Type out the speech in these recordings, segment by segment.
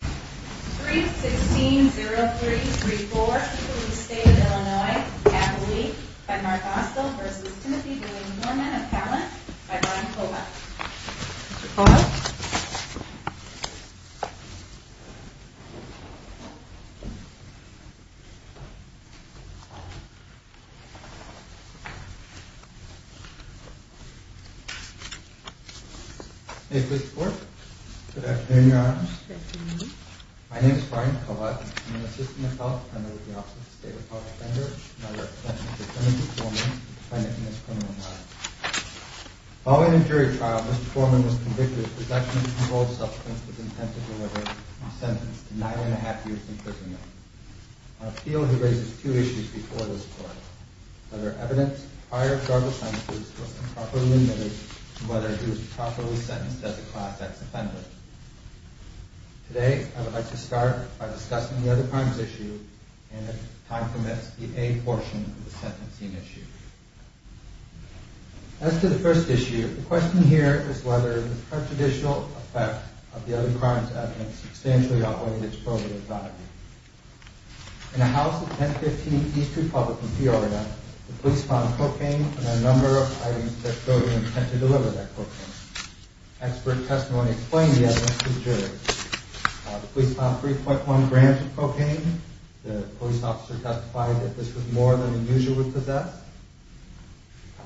3-16-03-34 Police State of Illinois, Appalachia, by Mark Osdell v. Timothy William Foreman of Pallant, by Ron Colbuck Mr. Foreman is convicted of possession and control of substance with intent to delude the public. He was sentenced to nine and a half years in prison. Our field raises two issues before this court. Whether evidence of prior drug offenses was improperly limited to whether he was properly sentenced as a Class X offender. Today, I would like to start by discussing the other crimes issue and, if time permits, the A portion of the sentencing issue. As to the first issue, the question here is whether the prejudicial effect of the other crimes evidence substantially outweighed its probative value. In a house at 1015 East Republic in Peoria, the police found cocaine and a number of items that showed an intent to deliver that cocaine. Expert testimony explained the evidence to the jury. The police found 3.1 grams of cocaine. The police officer testified that this was more than a user would possess.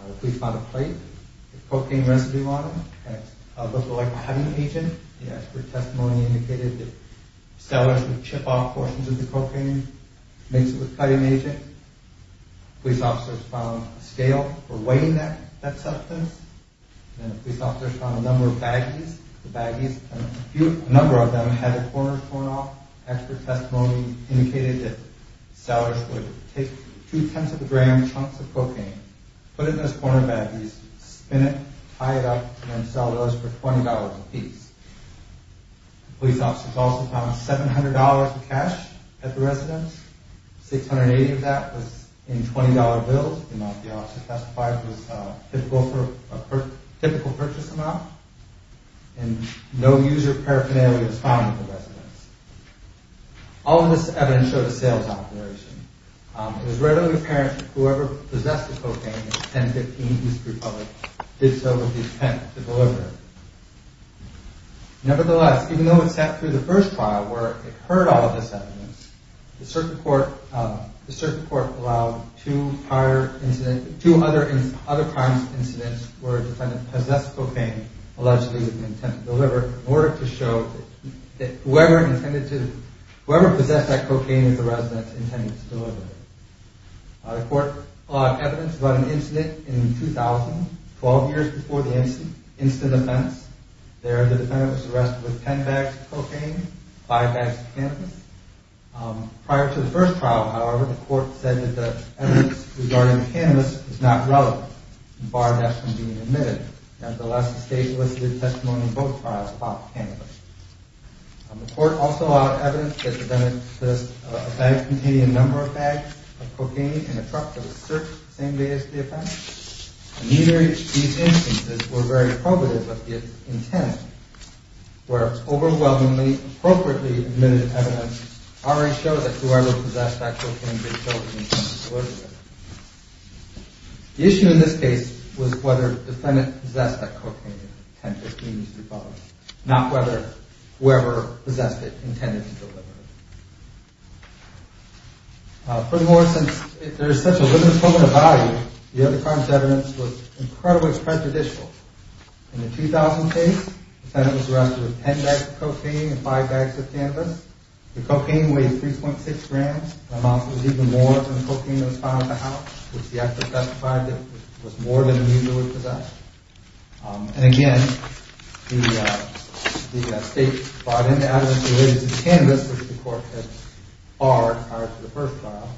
The police found a plate with cocaine residue on it. It looked like a cutting agent. The expert testimony indicated that sellers would chip off portions of the cocaine and mix it with cutting agent. Police officers found a scale for weighing that substance. Police officers found a number of baggies. A number of them had their corners torn off. Expert testimony indicated that sellers would take two-tenths of a gram chunks of cocaine, put it in those corner baggies, spin it, tie it up, and sell those for $20 apiece. Police officers also found $700 of cash at the residence. $680 of that was in $20 bills. The amount the officer testified was a typical purchase amount. No user paraphernalia was found at the residence. All of this evidence showed a sales operation. It was readily apparent that whoever possessed the cocaine at 1015 East Republic did so with the intent to deliver. Nevertheless, even though it sat through the first trial where it heard all of this evidence, the circuit court allowed two other crimes incidents where a defendant possessed cocaine allegedly with the intent to deliver in order to show that whoever possessed that cocaine at the residence intended to deliver it. The court allowed evidence about an incident in 2000, 12 years before the incident, instant offense. There, the defendant was arrested with 10 bags of cocaine, 5 bags of cannabis. Prior to the first trial, however, the court said that the evidence regarding the cannabis was not relevant, barred that from being admitted. Nevertheless, the state elicited testimony in both trials about the cannabis. The court also allowed evidence that the defendant possessed a bag containing a number of bags of cocaine in a truck that was searched the same day as the offense. Neither of these instances were very probative of the intent, where overwhelmingly appropriately admitted evidence already showed that whoever possessed that cocaine did so with the intent to deliver. The issue in this case was whether the defendant possessed that cocaine at 1015 East Republic, not whether whoever possessed it intended to deliver it. Furthermore, since there is such a limited scope of value, the other crimes evidence was incredibly prejudicial. In the 2000 case, the defendant was arrested with 10 bags of cocaine and 5 bags of cannabis. The cocaine weighed 3.6 grams, an amount that was even more than the cocaine that was found in the house, which the actor testified was more than he usually possessed. And again, the state brought in evidence related to cannabis, which the court had barred prior to the first trial.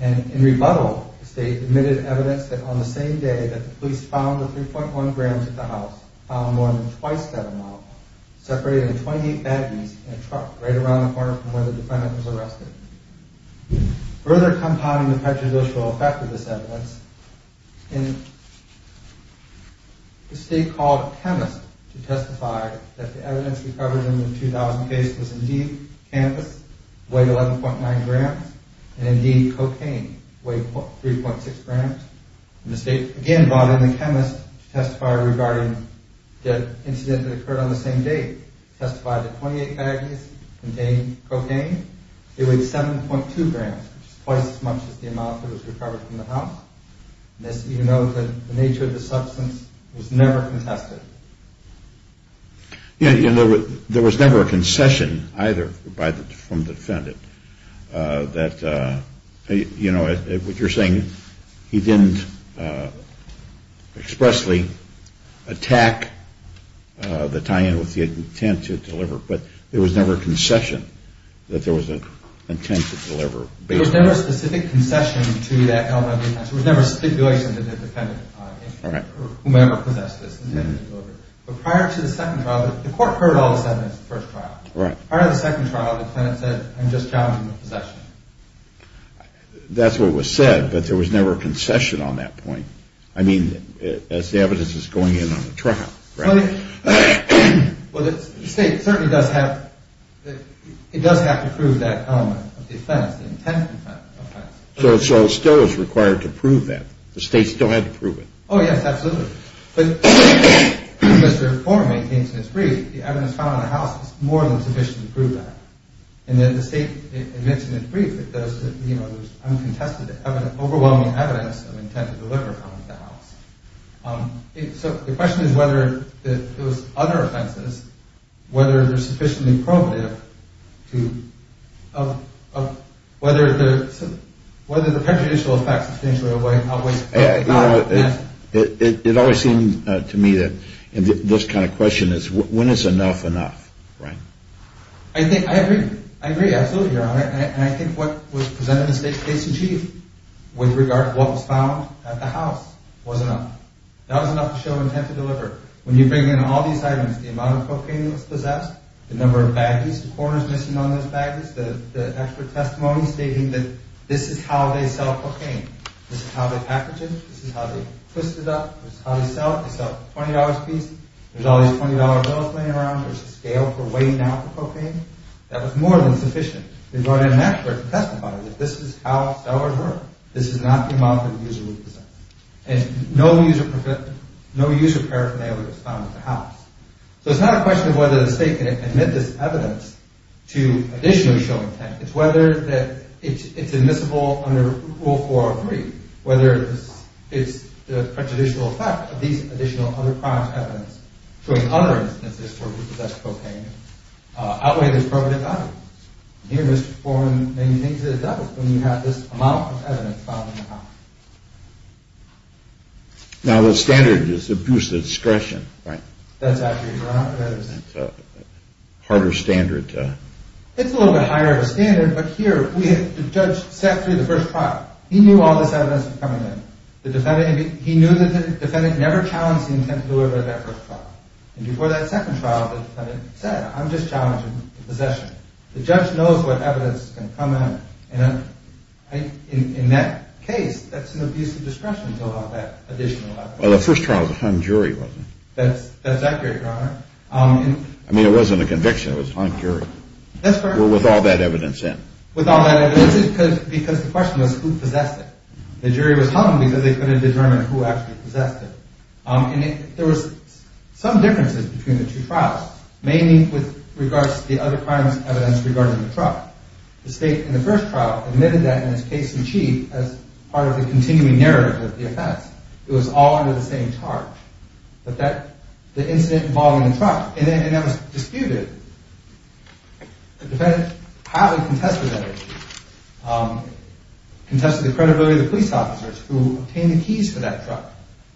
And in rebuttal, the state admitted evidence that on the same day that the police found the 3.1 grams at the house, found more than twice that amount, separated in 28 baggies in a truck right around the corner from where the defendant was arrested. Further compounding the prejudicial effect of this evidence, the state called a chemist to testify that the evidence recovered in the 2000 case was indeed cannabis, weighed 11.9 grams, and indeed cocaine, weighed 3.6 grams. And the state again brought in a chemist to testify regarding the incident that occurred on the same day, testified that 28 baggies contained cocaine. They weighed 7.2 grams, which is twice as much as the amount that was recovered from the house. And as you know, the nature of the substance was never contested. Yeah, and there was never a concession either from the defendant that, you know, what you're saying, he didn't expressly attack the tie-in with the intent to deliver, but there was never a concession that there was an intent to deliver. There was never a specific concession to that element of intent. There was never a stipulation that the defendant, or whomever possessed this intent to deliver. But prior to the second trial, the court heard all the evidence in the first trial. Prior to the second trial, the plaintiff said, I'm just challenging the possession. That's what was said, but there was never a concession on that point. I mean, as the evidence is going in on the trial. Well, the state certainly does have to prove that element of the offense, the intent of the offense. So it still is required to prove that? The state still had to prove it? Oh, yes, absolutely. But as the reform maintains in its brief, the evidence found in the house is more than sufficient to prove that. And then the state admits in its brief that there was uncontested overwhelming evidence of intent to deliver found in the house. So the question is whether those other offenses, whether they're sufficiently probative, whether the prejudicial effects substantially away. It always seemed to me that this kind of question is when it's enough enough, right? I think I agree. I agree, absolutely, Your Honor. And I think what was presented to the state's chief with regard to what was found at the house was enough. That was enough to show intent to deliver. When you bring in all these items, the amount of cocaine that was possessed, the number of baggies, the corners missing on those baggies, the expert testimony stating that this is how they sell cocaine, this is how they package it, this is how they twist it up, this is how they sell it. They sell it for $20 apiece, there's all these $20 bills laying around, there's a scale for weighing down the cocaine. That was more than sufficient. They brought in an expert to testify that this is how sellers work. This is not the amount that a user would possess. And no user paraphernalia was found at the house. So it's not a question of whether the state can admit this evidence to additionally show intent. It's whether it's admissible under Rule 403, whether it's the prejudicial effect of these additional other crimes evidence showing other instances where people possess cocaine outweigh the appropriate value. Here Mr. Foreman maintains that it does when you have this amount of evidence found in the house. Now the standard is abuse of discretion, right? That's actually correct. It's a harder standard to... It's a little bit higher of a standard, but here the judge sat through the first trial. He knew all this evidence was coming in. He knew the defendant never challenged the intent of whoever did that first trial. And before that second trial, the defendant said, I'm just challenging possession. The judge knows what evidence can come in. In that case, that's an abuse of discretion to allow that additional evidence. Well, the first trial, the hung jury wasn't. That's accurate, Your Honor. I mean, it wasn't a conviction, it was hung jury. With all that evidence in. With all that evidence in because the question was who possessed it. The jury was hung because they couldn't determine who actually possessed it. And there was some differences between the two trials. Mainly with regards to the other crimes evidence regarding the truck. The state in the first trial admitted that in its case in chief as part of the continuing narrative of the offense. It was all under the same charge. But the incident involving the truck, and that was disputed. The defendant highly contested that issue. Contested the credibility of the police officers who obtained the keys to that truck.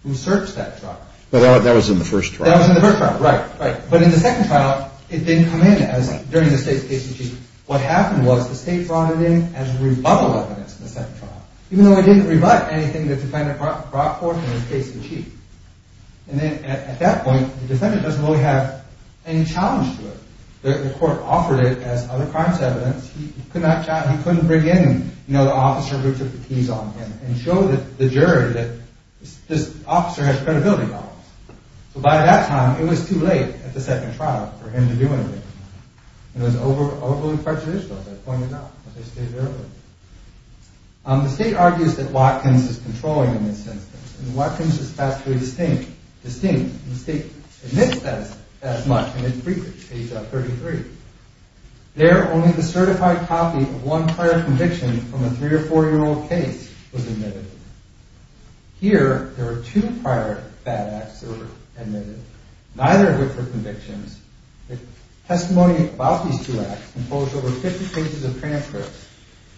Who searched that truck. But that was in the first trial. That was in the first trial. Right, right. But in the second trial, it didn't come in during the state's case in chief. What happened was the state brought it in as rebuttal evidence in the second trial. Even though it didn't rebut anything the defendant brought forth in its case in chief. And then at that point, the defendant doesn't really have any challenge to it. The court offered it as other crimes evidence. He couldn't bring in, you know, the officer who took the keys on him. And show the jury that this officer has credibility problems. So by that time, it was too late at the second trial for him to do anything. It was overly prejudicial, as I pointed out, as I stated earlier. The state argues that Watkins is controlling in this instance. And Watkins is vastly distinct. The state admits that as much in its brief, page 33. There, only the certified copy of one prior conviction from a 3- or 4-year-old case was admitted. Here, there are two prior bad acts that were admitted. Neither are good for convictions. The testimony about these two acts includes over 50 cases of transcripts.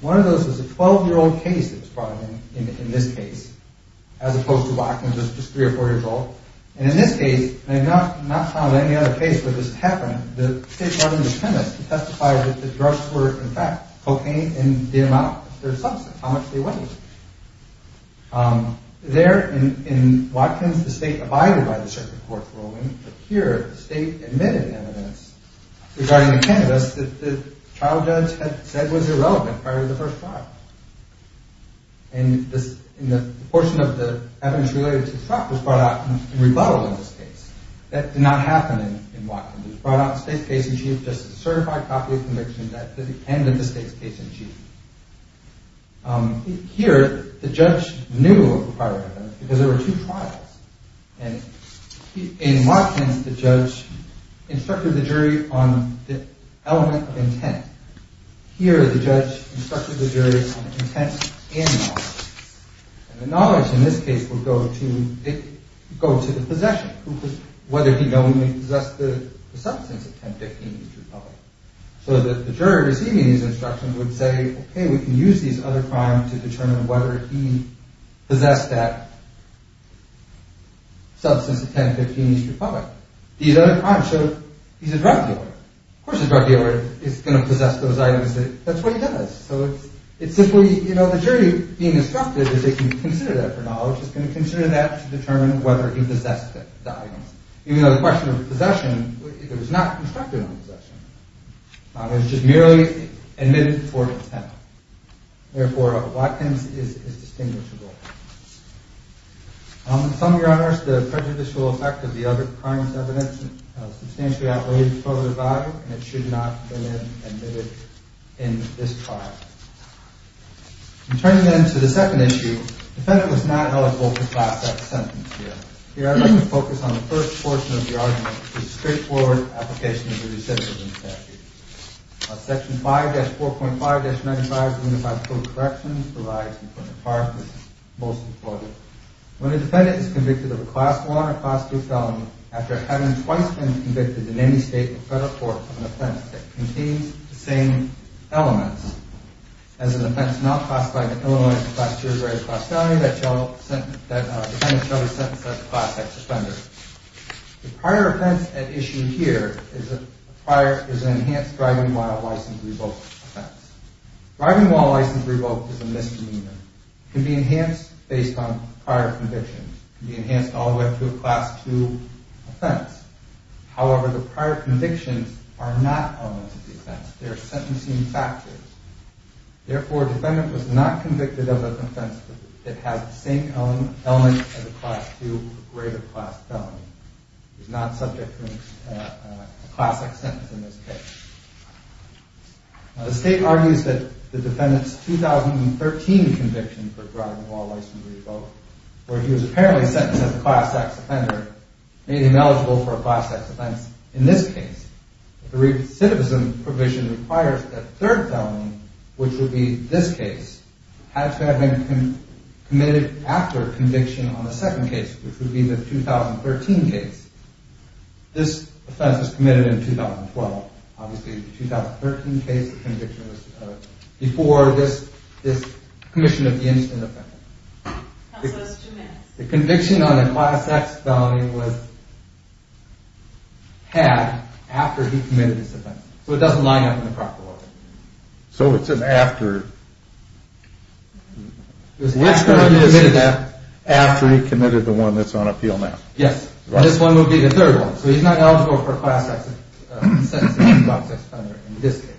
One of those was a 12-year-old case that was brought in, in this case. As opposed to Watkins, who was just 3- or 4-years-old. And in this case, I have not found any other case where this happened. The state's attorney, the chemist, testified that the drugs were, in fact, cocaine. And the amount of their substance, how much they weighed. There, in Watkins, the state abided by the circuit court's ruling. But here, the state admitted evidence regarding the cannabis that the trial judge had said was irrelevant prior to the first trial. And the portion of the evidence related to the truck was brought out in rebuttal in this case. That did not happen in Watkins. It was brought out in the state's case-in-chief, just a certified copy of the conviction that ended the state's case-in-chief. Here, the judge knew of the prior evidence because there were two trials. And in Watkins, the judge instructed the jury on the element of intent. Here, the judge instructed the jury on intent and knowledge. And the knowledge, in this case, would go to the possession. Whether he knowingly possessed the substance of 10-15 East Republic. So that the jury receiving these instructions would say, Okay, we can use these other crimes to determine whether he possessed that substance of 10-15 East Republic. These other crimes show he's a drug dealer. Of course a drug dealer is going to possess those items. That's what he does. So it's simply, you know, the jury being instructed is they can consider that for knowledge. It's going to consider that to determine whether he possessed that item. Even though the question of possession, it was not instructed on possession. It was just merely admitted for intent. Therefore, Watkins is distinguishable. In sum, Your Honor, the prejudicial effect of the other crimes evidence substantially outweighs the pro-the value. And it should not have been admitted in this trial. Turning then to the second issue, the defendant was not eligible to pass that sentence here. Here, I'd like you to focus on the first portion of the argument. The straightforward application of the recidivism statute. Section 5-4.5-95 of the Unified Court of Corrections provides an important part that's most important. When a defendant is convicted of a Class I or Class II felony, after having twice been convicted in any state or federal court of an offense that contains the same elements, as an offense not classified in Illinois as a Class II or Class III felony, that defendant shall be sentenced as a Class X offender. The prior offense at issue here is an enhanced driving while license revoked offense. Driving while license revoked is a misdemeanor. It can be enhanced based on prior convictions. It can be enhanced all the way up to a Class II offense. However, the prior convictions are not elements of the offense. They are sentencing factors. Therefore, a defendant was not convicted of an offense that has the same elements as a Class II or greater class felony. It is not subject to a Class X sentence in this case. The state argues that the defendant's 2013 conviction for driving while license revoked, where he was apparently sentenced as a Class X offender, made him eligible for a Class X offense in this case. The recidivism provision requires that the third felony, which would be this case, had to have been committed after conviction on the second case, which would be the 2013 case. This offense was committed in 2012. Obviously, the 2013 case of conviction was before this commission of the incident offense. The conviction on the Class X felony was had after he committed this offense. So it doesn't line up in the proper way. So it's an after. It's after he committed that. After he committed the one that's on appeal now. Yes, this one would be the third one. So he's not eligible for a Class X sentence for a Class X offender in this case.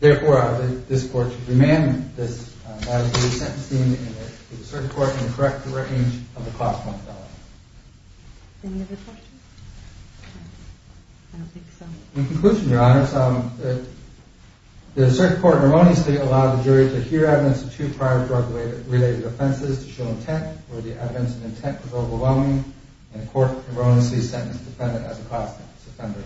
Therefore, this court should demand that he be sentenced in the circuit court in the correct range of the Class I felony. Any other questions? In conclusion, Your Honor, the circuit court harmoniously allowed the jury to hear evidence of two prior drug-related offenses to show intent, where the evidence of intent was overwhelming, and the court harmoniously sentenced the defendant as a Class X offender.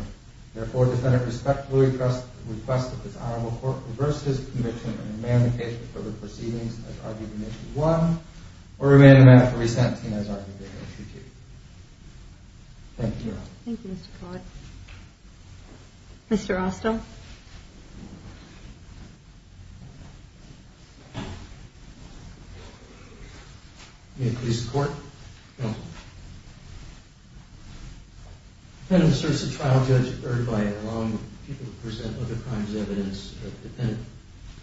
Therefore, the defendant respectfully requests that this Honorable Court reverse his conviction and demand the case for the proceedings as argued in Issue 1, or remain in the matter for resentment as argued in Issue 2. Thank you, Your Honor. Thank you, Mr. Collett. Mr. Rostow? May it please the Court? Counsel. The defendant serves the trial judge by allowing people to present other crimes as evidence. The defendant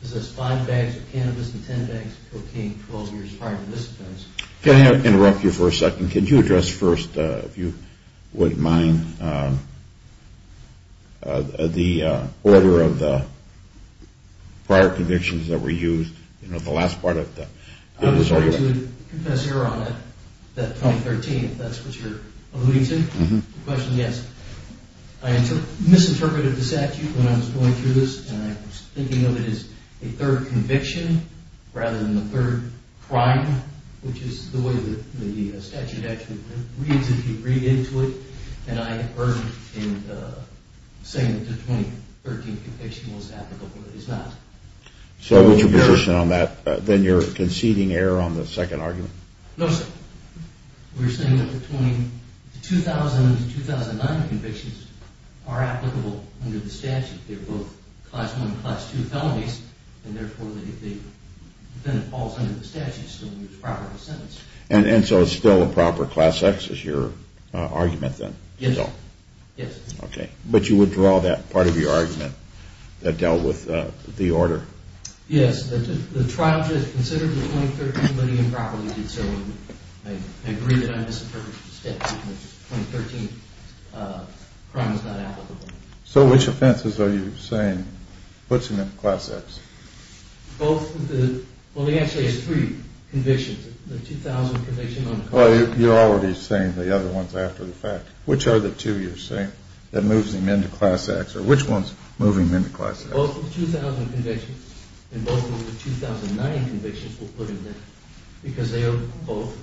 possessed five bags of cannabis and ten bags of cocaine 12 years prior to this offense. Can I interrupt you for a second? Could you address first, if you wouldn't mind, the order of the prior convictions that were used? You know, the last part of the argument. I was going to confess, Your Honor, that 2013, if that's what you're alluding to. The question is, I misinterpreted the statute when I was going through this, and I was thinking of it as a third conviction rather than the third crime, which is the way the statute actually reads if you read into it, and I heard in saying that the 2013 conviction was applicable, but it is not. So what's your position on that? Then you're conceding error on the second argument? No, sir. We're saying that the 2000 to 2009 convictions are applicable under the statute. They're both Class I and Class II felonies, and therefore the defendant falls under the statute, so it's a proper sentence. And so it's still a proper Class X is your argument then? Yes, sir. Yes. Okay. But you would draw that part of your argument that dealt with the order? Yes. The trial just considered the 2013 committing improperly, and so I agree that I misinterpreted the statute, and the 2013 crime is not applicable. So which offenses are you saying puts him in Class X? Both of the – well, he actually has three convictions. The 2000 conviction on the car accident. Well, you're already saying the other ones after the fact. Which are the two you're saying that moves him into Class X, or which ones move him into Class X? Both of the 2000 convictions and both of the 2009 convictions will put him there because they are both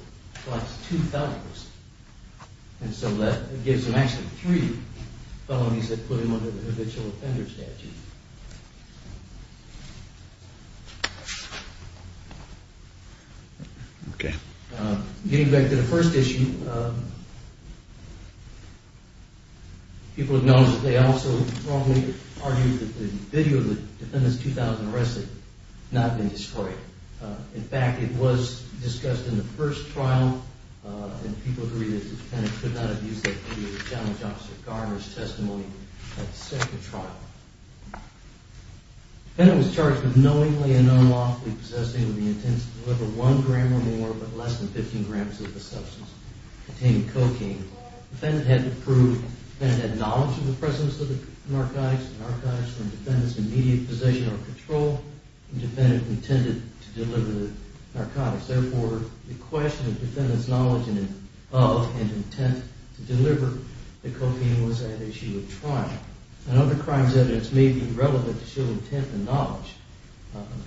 Class II felonies, and so that gives him actually three felonies that put him under the habitual offender statute. Okay. Getting back to the first issue, people have known that they also wrongly argued that the video of the defendant's 2000 arrest had not been destroyed. In fact, it was discussed in the first trial, and people agree that the defendant could not have used that video to challenge Officer Garner's testimony at the second trial. The defendant was charged with knowingly and unlawfully possessing with the intent to deliver one gram or more, but less than 15 grams of the substance containing cocaine. The defendant had to prove the defendant had knowledge of the presence of the narcotics, the narcotics were in the defendant's immediate possession or control, and the defendant intended to deliver the narcotics. Therefore, the question of the defendant's knowledge of and intent to deliver the cocaine was at issue at trial. And other crimes' evidence may be irrelevant to show intent and knowledge.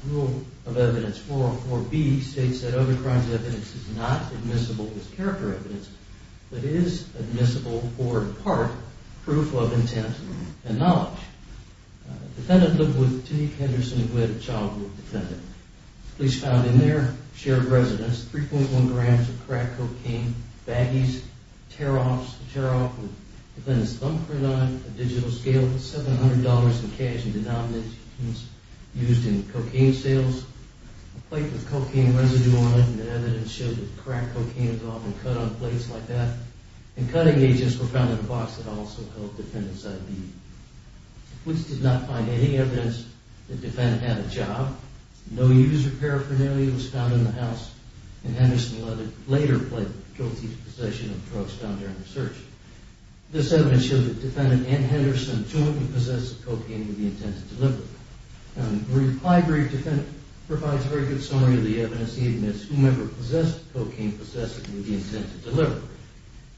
Rule of Evidence 404B states that other crimes' evidence is not admissible as character evidence, but is admissible for, in part, proof of intent and knowledge. The defendant lived with Tenique Henderson, who had a childhood defendant. Police found in their shared residence 3.1 grams of crack cocaine, baggies, tear-offs, a tear-off with the defendant's thumbprint on it, a digital scale with $700 in cash and denominations used in cocaine sales, a plate with cocaine residue on it, and evidence showed that crack cocaine was often cut on plates like that, and cutting agents were found in a box that also held the defendant's ID. Police did not find any evidence that the defendant had a job. No use or paraphernalia was found in the house, and Henderson later pled guilty to possession of drugs found during the search. This evidence shows that the defendant and Henderson, two of them, possessed the cocaine with the intent to deliver it. The reply brief provides a very good summary of the evidence. He admits whomever possessed the cocaine possessed it with the intent to deliver it.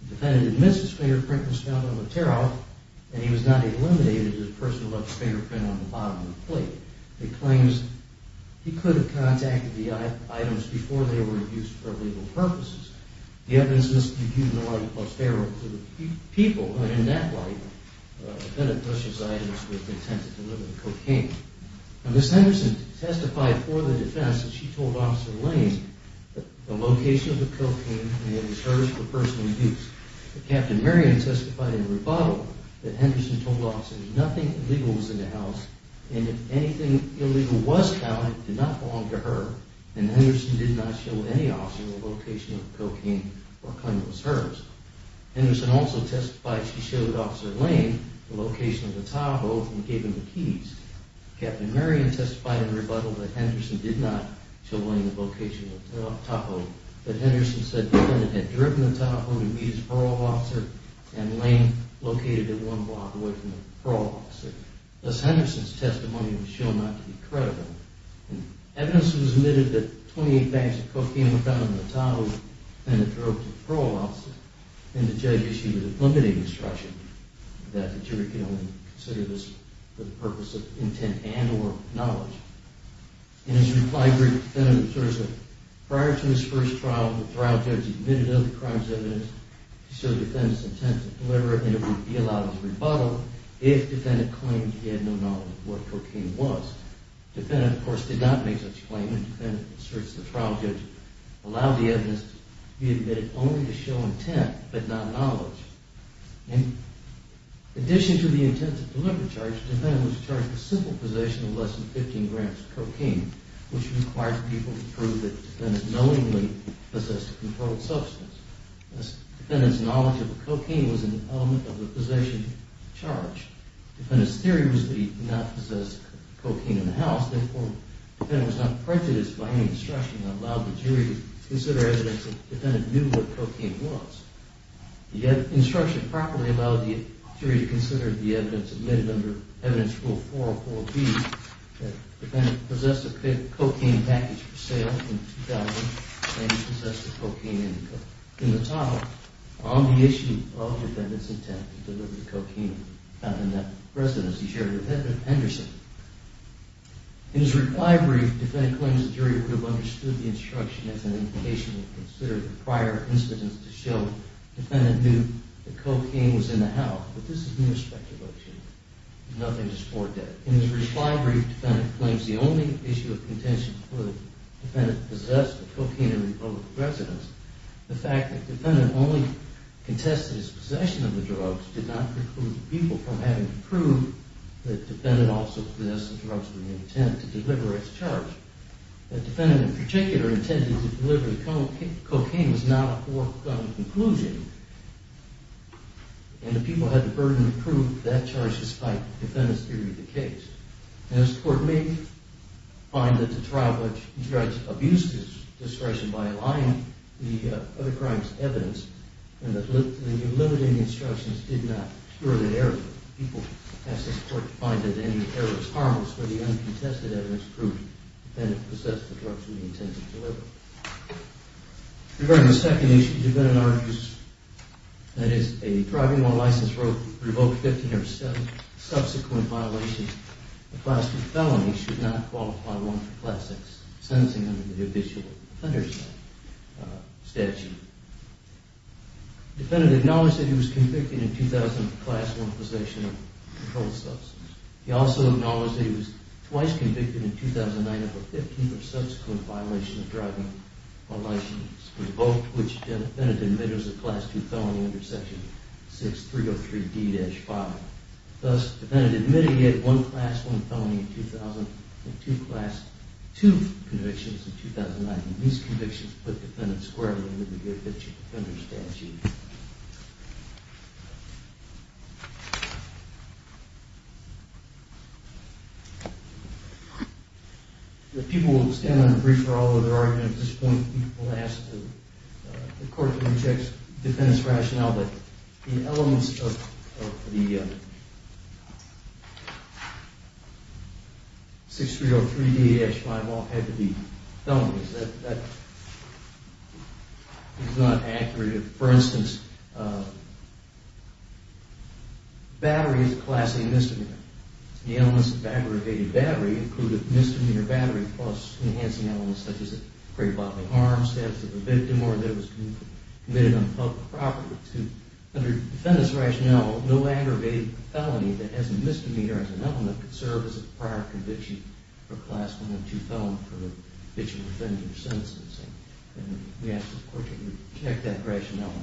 The defendant admits his fingerprint was found on the tear-off, and he was not eliminated as a person who left his fingerprint on the bottom of the plate. He claims he could have contacted the items before they were used for legal purposes. The evidence must be viewed in the light of prosperity for the people, and in that light, the defendant pushes items with the intent to deliver the cocaine. Ms. Henderson testified for the defense that she told Officer Lane the location of the cocaine and that it was hers for personal use. Captain Marion testified in a rebuttal that Henderson told Officer Lane that nothing illegal was in the house, and that anything illegal was counted did not belong to her, and Henderson did not show any officer the location of the cocaine or claim it was hers. Henderson also testified she showed Officer Lane the location of the Tahoe and gave him the keys. Captain Marion testified in a rebuttal that Henderson did not show Lane the location of the Tahoe, but Henderson said the defendant had driven the Tahoe to meet his parole officer and Lane located it one block away from the parole officer. Ms. Henderson's testimony was shown not to be credible. Evidence was admitted that 28 bags of cocaine were found in the Tahoe and the defendant drove to the parole officer, and the judge issued a limiting instruction that the jury could only consider this for the purpose of intent and or knowledge. In his reply, the defendant asserts that prior to his first trial, the trial judge admitted of the crime's evidence to show the defendant's intent to deliver it and it would be allowed as rebuttal if the defendant claimed he had no knowledge of what cocaine was. The defendant, of course, did not make such a claim, and the defendant asserts the trial judge allowed the evidence to be admitted only to show intent but not knowledge. In addition to the intent to deliver charge, the defendant was charged with simple possession of less than 15 grams of cocaine, which required people to prove that the defendant knowingly possessed a controlled substance. The defendant's knowledge of cocaine was an element of the possession charge. The defendant's theory was that he did not possess cocaine in the house. Therefore, the defendant was not prejudiced by any instruction that allowed the jury to consider evidence that the defendant knew what cocaine was. The instruction properly allowed the jury to consider the evidence admitted under Evidence Rule 404B that the defendant possessed a cocaine package for sale in 2000 and he possessed a cocaine indicator. In the title, on the issue of the defendant's intent to deliver the cocaine, found in that residence, he shared it with Edmund Henderson. In his reply brief, the defendant claims the jury would have understood the instruction as an indication to consider the prior incidents to show the defendant knew that cocaine was in the house, but this is an irrespective option. Nothing is foretold. In his reply brief, the defendant claims the only issue of contention for the defendant possessed of cocaine in the public residence, the fact that the defendant only contested his possession of the drugs, did not preclude the people from having to prove that the defendant also possessed the drugs with the intent to deliver its charge. The defendant, in particular, intended to deliver the cocaine was not a foregone conclusion. And the people had the burden to prove that charge despite the defendant's theory of the case. As the court may find that the trial judge abused his discretion by allying the other crime's evidence and that the limited instructions did not spur the error, the people asked the court to find that any error was harmless, but the uncontested evidence proved the defendant possessed the drugs with the intent to deliver. Regarding the second issue, the defendant argues that if a driving while license revoked 15 of seven subsequent violations of class 3 felonies should not qualify one for class 6 sentencing under the official offender statute. The defendant acknowledged that he was convicted in 2000 for class 1 possession of a controlled substance. He also acknowledged that he was twice convicted in 2009 for 15 of subsequent violations of driving while license revoked, which the defendant admitted was a class 2 felony under section 6303D-5. Thus, the defendant admitted he had one class 1 felony in 2000 and two class 2 convictions in 2009. These convictions put the defendant squarely under the official offender statute. The people will stand on the brief for all of their arguments at this point. The court rejects the defendant's rationale that the elements of the 6303D-5 all had to be felonies. That is not accurate. For instance, battery is a class A misdemeanor. The elements of aggravated battery include a misdemeanor battery plus enhancing elements such as a great bodily harm, theft of a victim, or that it was committed on public property. Under the defendant's rationale, no aggravated felony that has a misdemeanor as an element could serve as a prior conviction for class 1 and 2 felon for the official offender sentencing. We ask the court to reject that rationale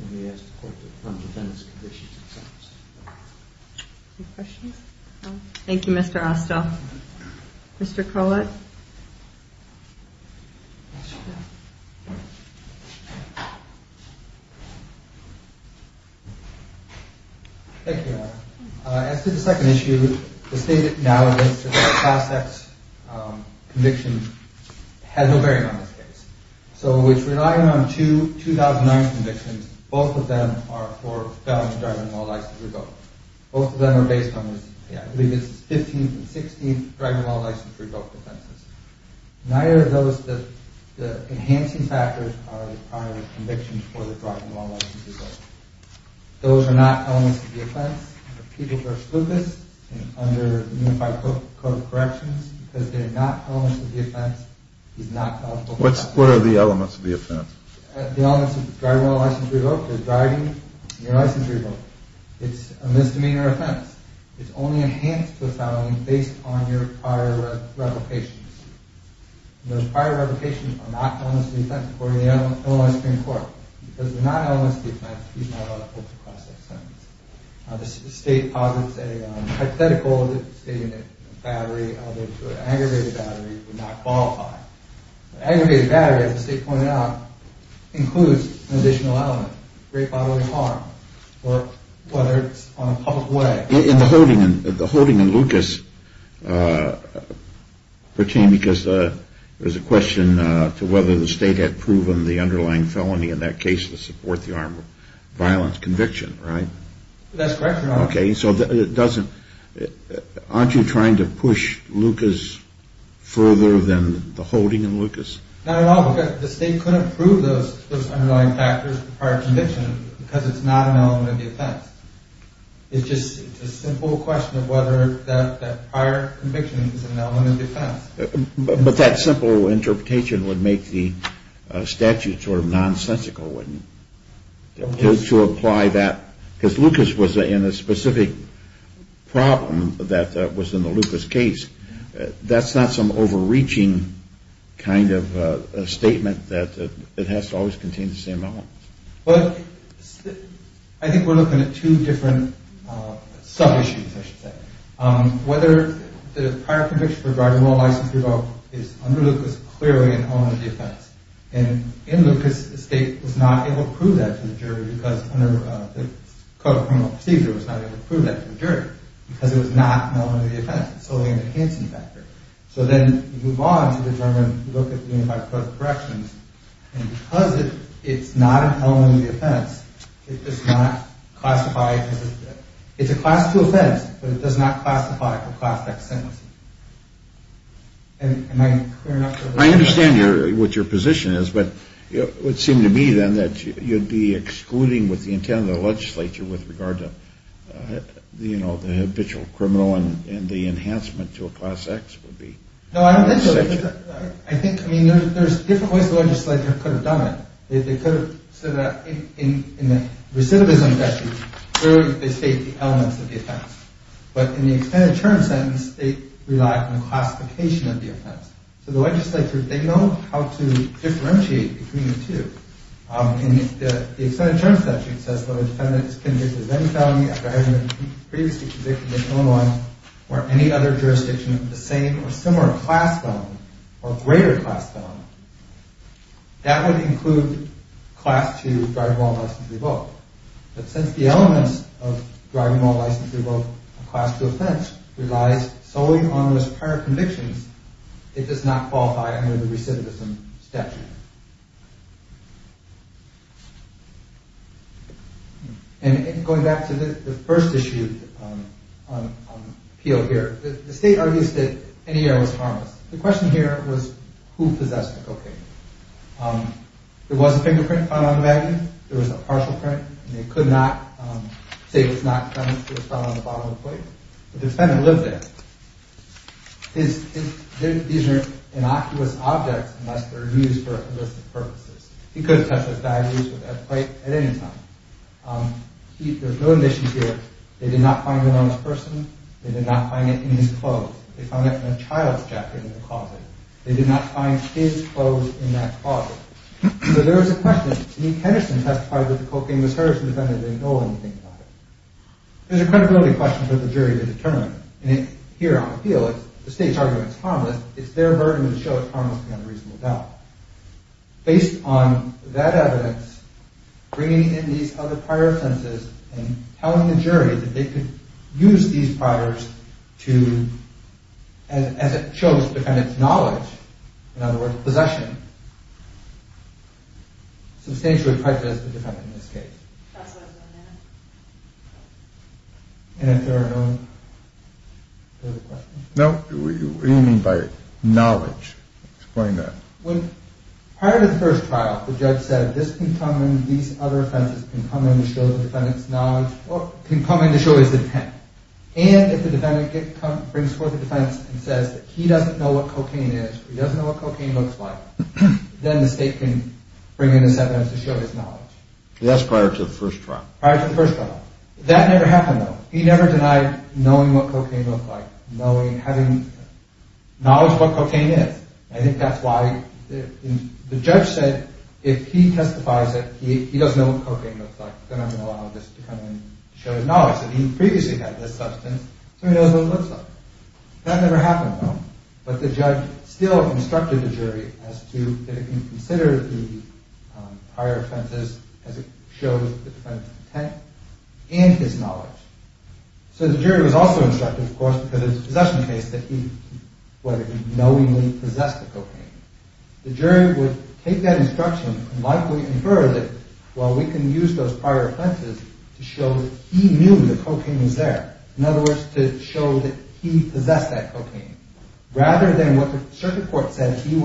and we ask the court to fund the defendant's convictions themselves. Any questions? Thank you, Mr. Astell. Mr. Kollett? Thank you, Anna. As to the second issue, the state acknowledges that the class X conviction has no bearing on this case. So, which relied on two 2009 convictions, both of them are for felons driving a law-licensed revoke. Both of them are based on the 15th and 16th driving a law-licensed revoke offenses. Neither of those, the enhancing factors are the prior convictions for the driving a law-licensed revoke. Those are not elements of the offense. For people who are spookus and under the Unified Code of Corrections, because they are not elements of the offense, he's not eligible for that. What are the elements of the offense? The elements of the driving a law-licensed revoke is driving a law-licensed revoke. It's a misdemeanor offense. It's only enhanced to a felony based on your prior revocations. Those prior revocations are not elements of the offense according to the Illinois Supreme Court. Because they're not elements of the offense, he's not eligible for class X sentences. The state posits a hypothetical that the state unit battery, although to an aggravated battery, would not qualify. An aggravated battery, as the state pointed out, includes an additional element, rape, bodily harm, or whether it's on a public way. The holding in Lucas pertained because there was a question to whether the state had proven the underlying felony in that case to support the armed violence conviction, right? That's correct, Your Honor. Okay, so it doesn't – aren't you trying to push Lucas further than the holding in Lucas? Not at all, because the state couldn't prove those underlying factors for prior conviction because it's not an element of the offense. It's just a simple question of whether that prior conviction is an element of the offense. But that simple interpretation would make the statute sort of nonsensical, wouldn't it, to apply that? Because Lucas was in a specific problem that was in the Lucas case. That's not some overreaching kind of statement that it has to always contain the same elements. Well, I think we're looking at two different sub-issues, I should say. Whether the prior conviction regarding well-licensed revolt is under Lucas clearly an element of the offense. And in Lucas, the state was not able to prove that to the jury because under the Code of Criminal Procedure, it was not able to prove that to the jury because it was not an element of the offense. It's solely an enhancing factor. So then you move on to determine, look at the Unified Court of Corrections. And because it's not an element of the offense, it does not classify. It's a Class II offense, but it does not classify for Class X sentencing. Am I clear enough? I understand what your position is, but it would seem to me then that you'd be excluding with the intent of the legislature with regard to the habitual criminal and the enhancement to a Class X would be... No, I don't think so. I think, I mean, there's different ways the legislature could have done it. They could have said that in the recidivism statute, clearly they state the elements of the offense. But in the extended term sentence, they rely on the classification of the offense. So the legislature, they know how to differentiate between the two. In the extended term statute, it says, whether a defendant is convicted of any felony after having been previously convicted in Illinois or any other jurisdiction of the same or similar class felony or greater class felony, that would include Class II driving while licensed to revoke. But since the elements of driving while licensed to revoke a Class II offense relies solely on those prior convictions, it does not qualify under the recidivism statute. And going back to the first issue on appeal here, the state argues that any error was harmless. The question here was who possessed the cocaine. There was a fingerprint found on the magazine. There was a partial print, and they could not say it was not found on the bottom of the plate. The defendant lived there. These are innocuous objects unless they're used for illicit purposes. He could have tested for diabetes with that plate at any time. There's no indication here they did not find it on the person. They did not find it in his clothes. They found it in a child's jacket in the closet. They did not find his clothes in that closet. So there was a question. I mean, Henderson testified that the cocaine was hers. The defendant didn't know anything about it. There's a credibility question for the jury to determine. And here on appeal, the state's argument is harmless. It's their burden to show it's harmless beyond a reasonable doubt. Based on that evidence, bringing in these other prior sentences and telling the jury that they could use these priors to, as it shows the defendant's knowledge, in other words, possession, substantially prejudiced the defendant in this case. And if there are no further questions? No. What do you mean by knowledge? Explain that. Prior to the first trial, the judge said this can come in, these other offenses can come in to show the defendant's knowledge, or can come in to show his intent. And if the defendant brings forth a defense and says that he doesn't know what cocaine is or he doesn't know what cocaine looks like, then the state can bring in a sentence to show his knowledge. That's prior to the first trial. Prior to the first trial. That never happened, though. He never denied knowing what cocaine looked like, having knowledge of what cocaine is. I think that's why the judge said if he testifies that he doesn't know what cocaine looks like, then I'm going to allow this to come in to show his knowledge, that he previously had this substance so he knows what it looks like. That never happened, though. But the judge still instructed the jury as to if it can consider the prior offenses as it shows the defendant's intent and his knowledge. So the jury was also instructed, of course, because it's a possession case, that he knowingly possessed the cocaine. The jury would take that instruction and likely infer that, well, we can use those prior offenses to show that he knew the cocaine was there. In other words, to show that he possessed that cocaine. Rather than what the circuit court judge said he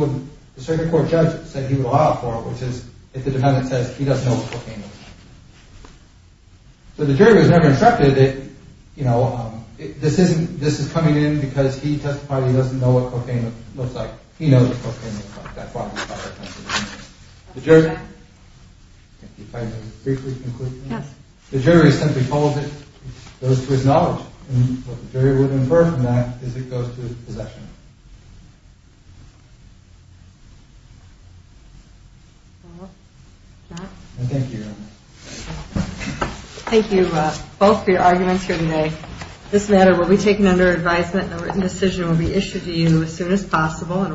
would allow for, which is if the defendant says he doesn't know what cocaine looks like. So the jury was never instructed that this is coming in because he testifies that he doesn't know what cocaine looks like. He knows what cocaine looks like. That's why the prior offense is in there. The jury simply holds it. It goes to his knowledge. And what the jury would infer from that is it goes to his possession. Thank you. Thank you both for your arguments here today. This matter will be taken under advisement and a written decision will be issued to you as soon as possible.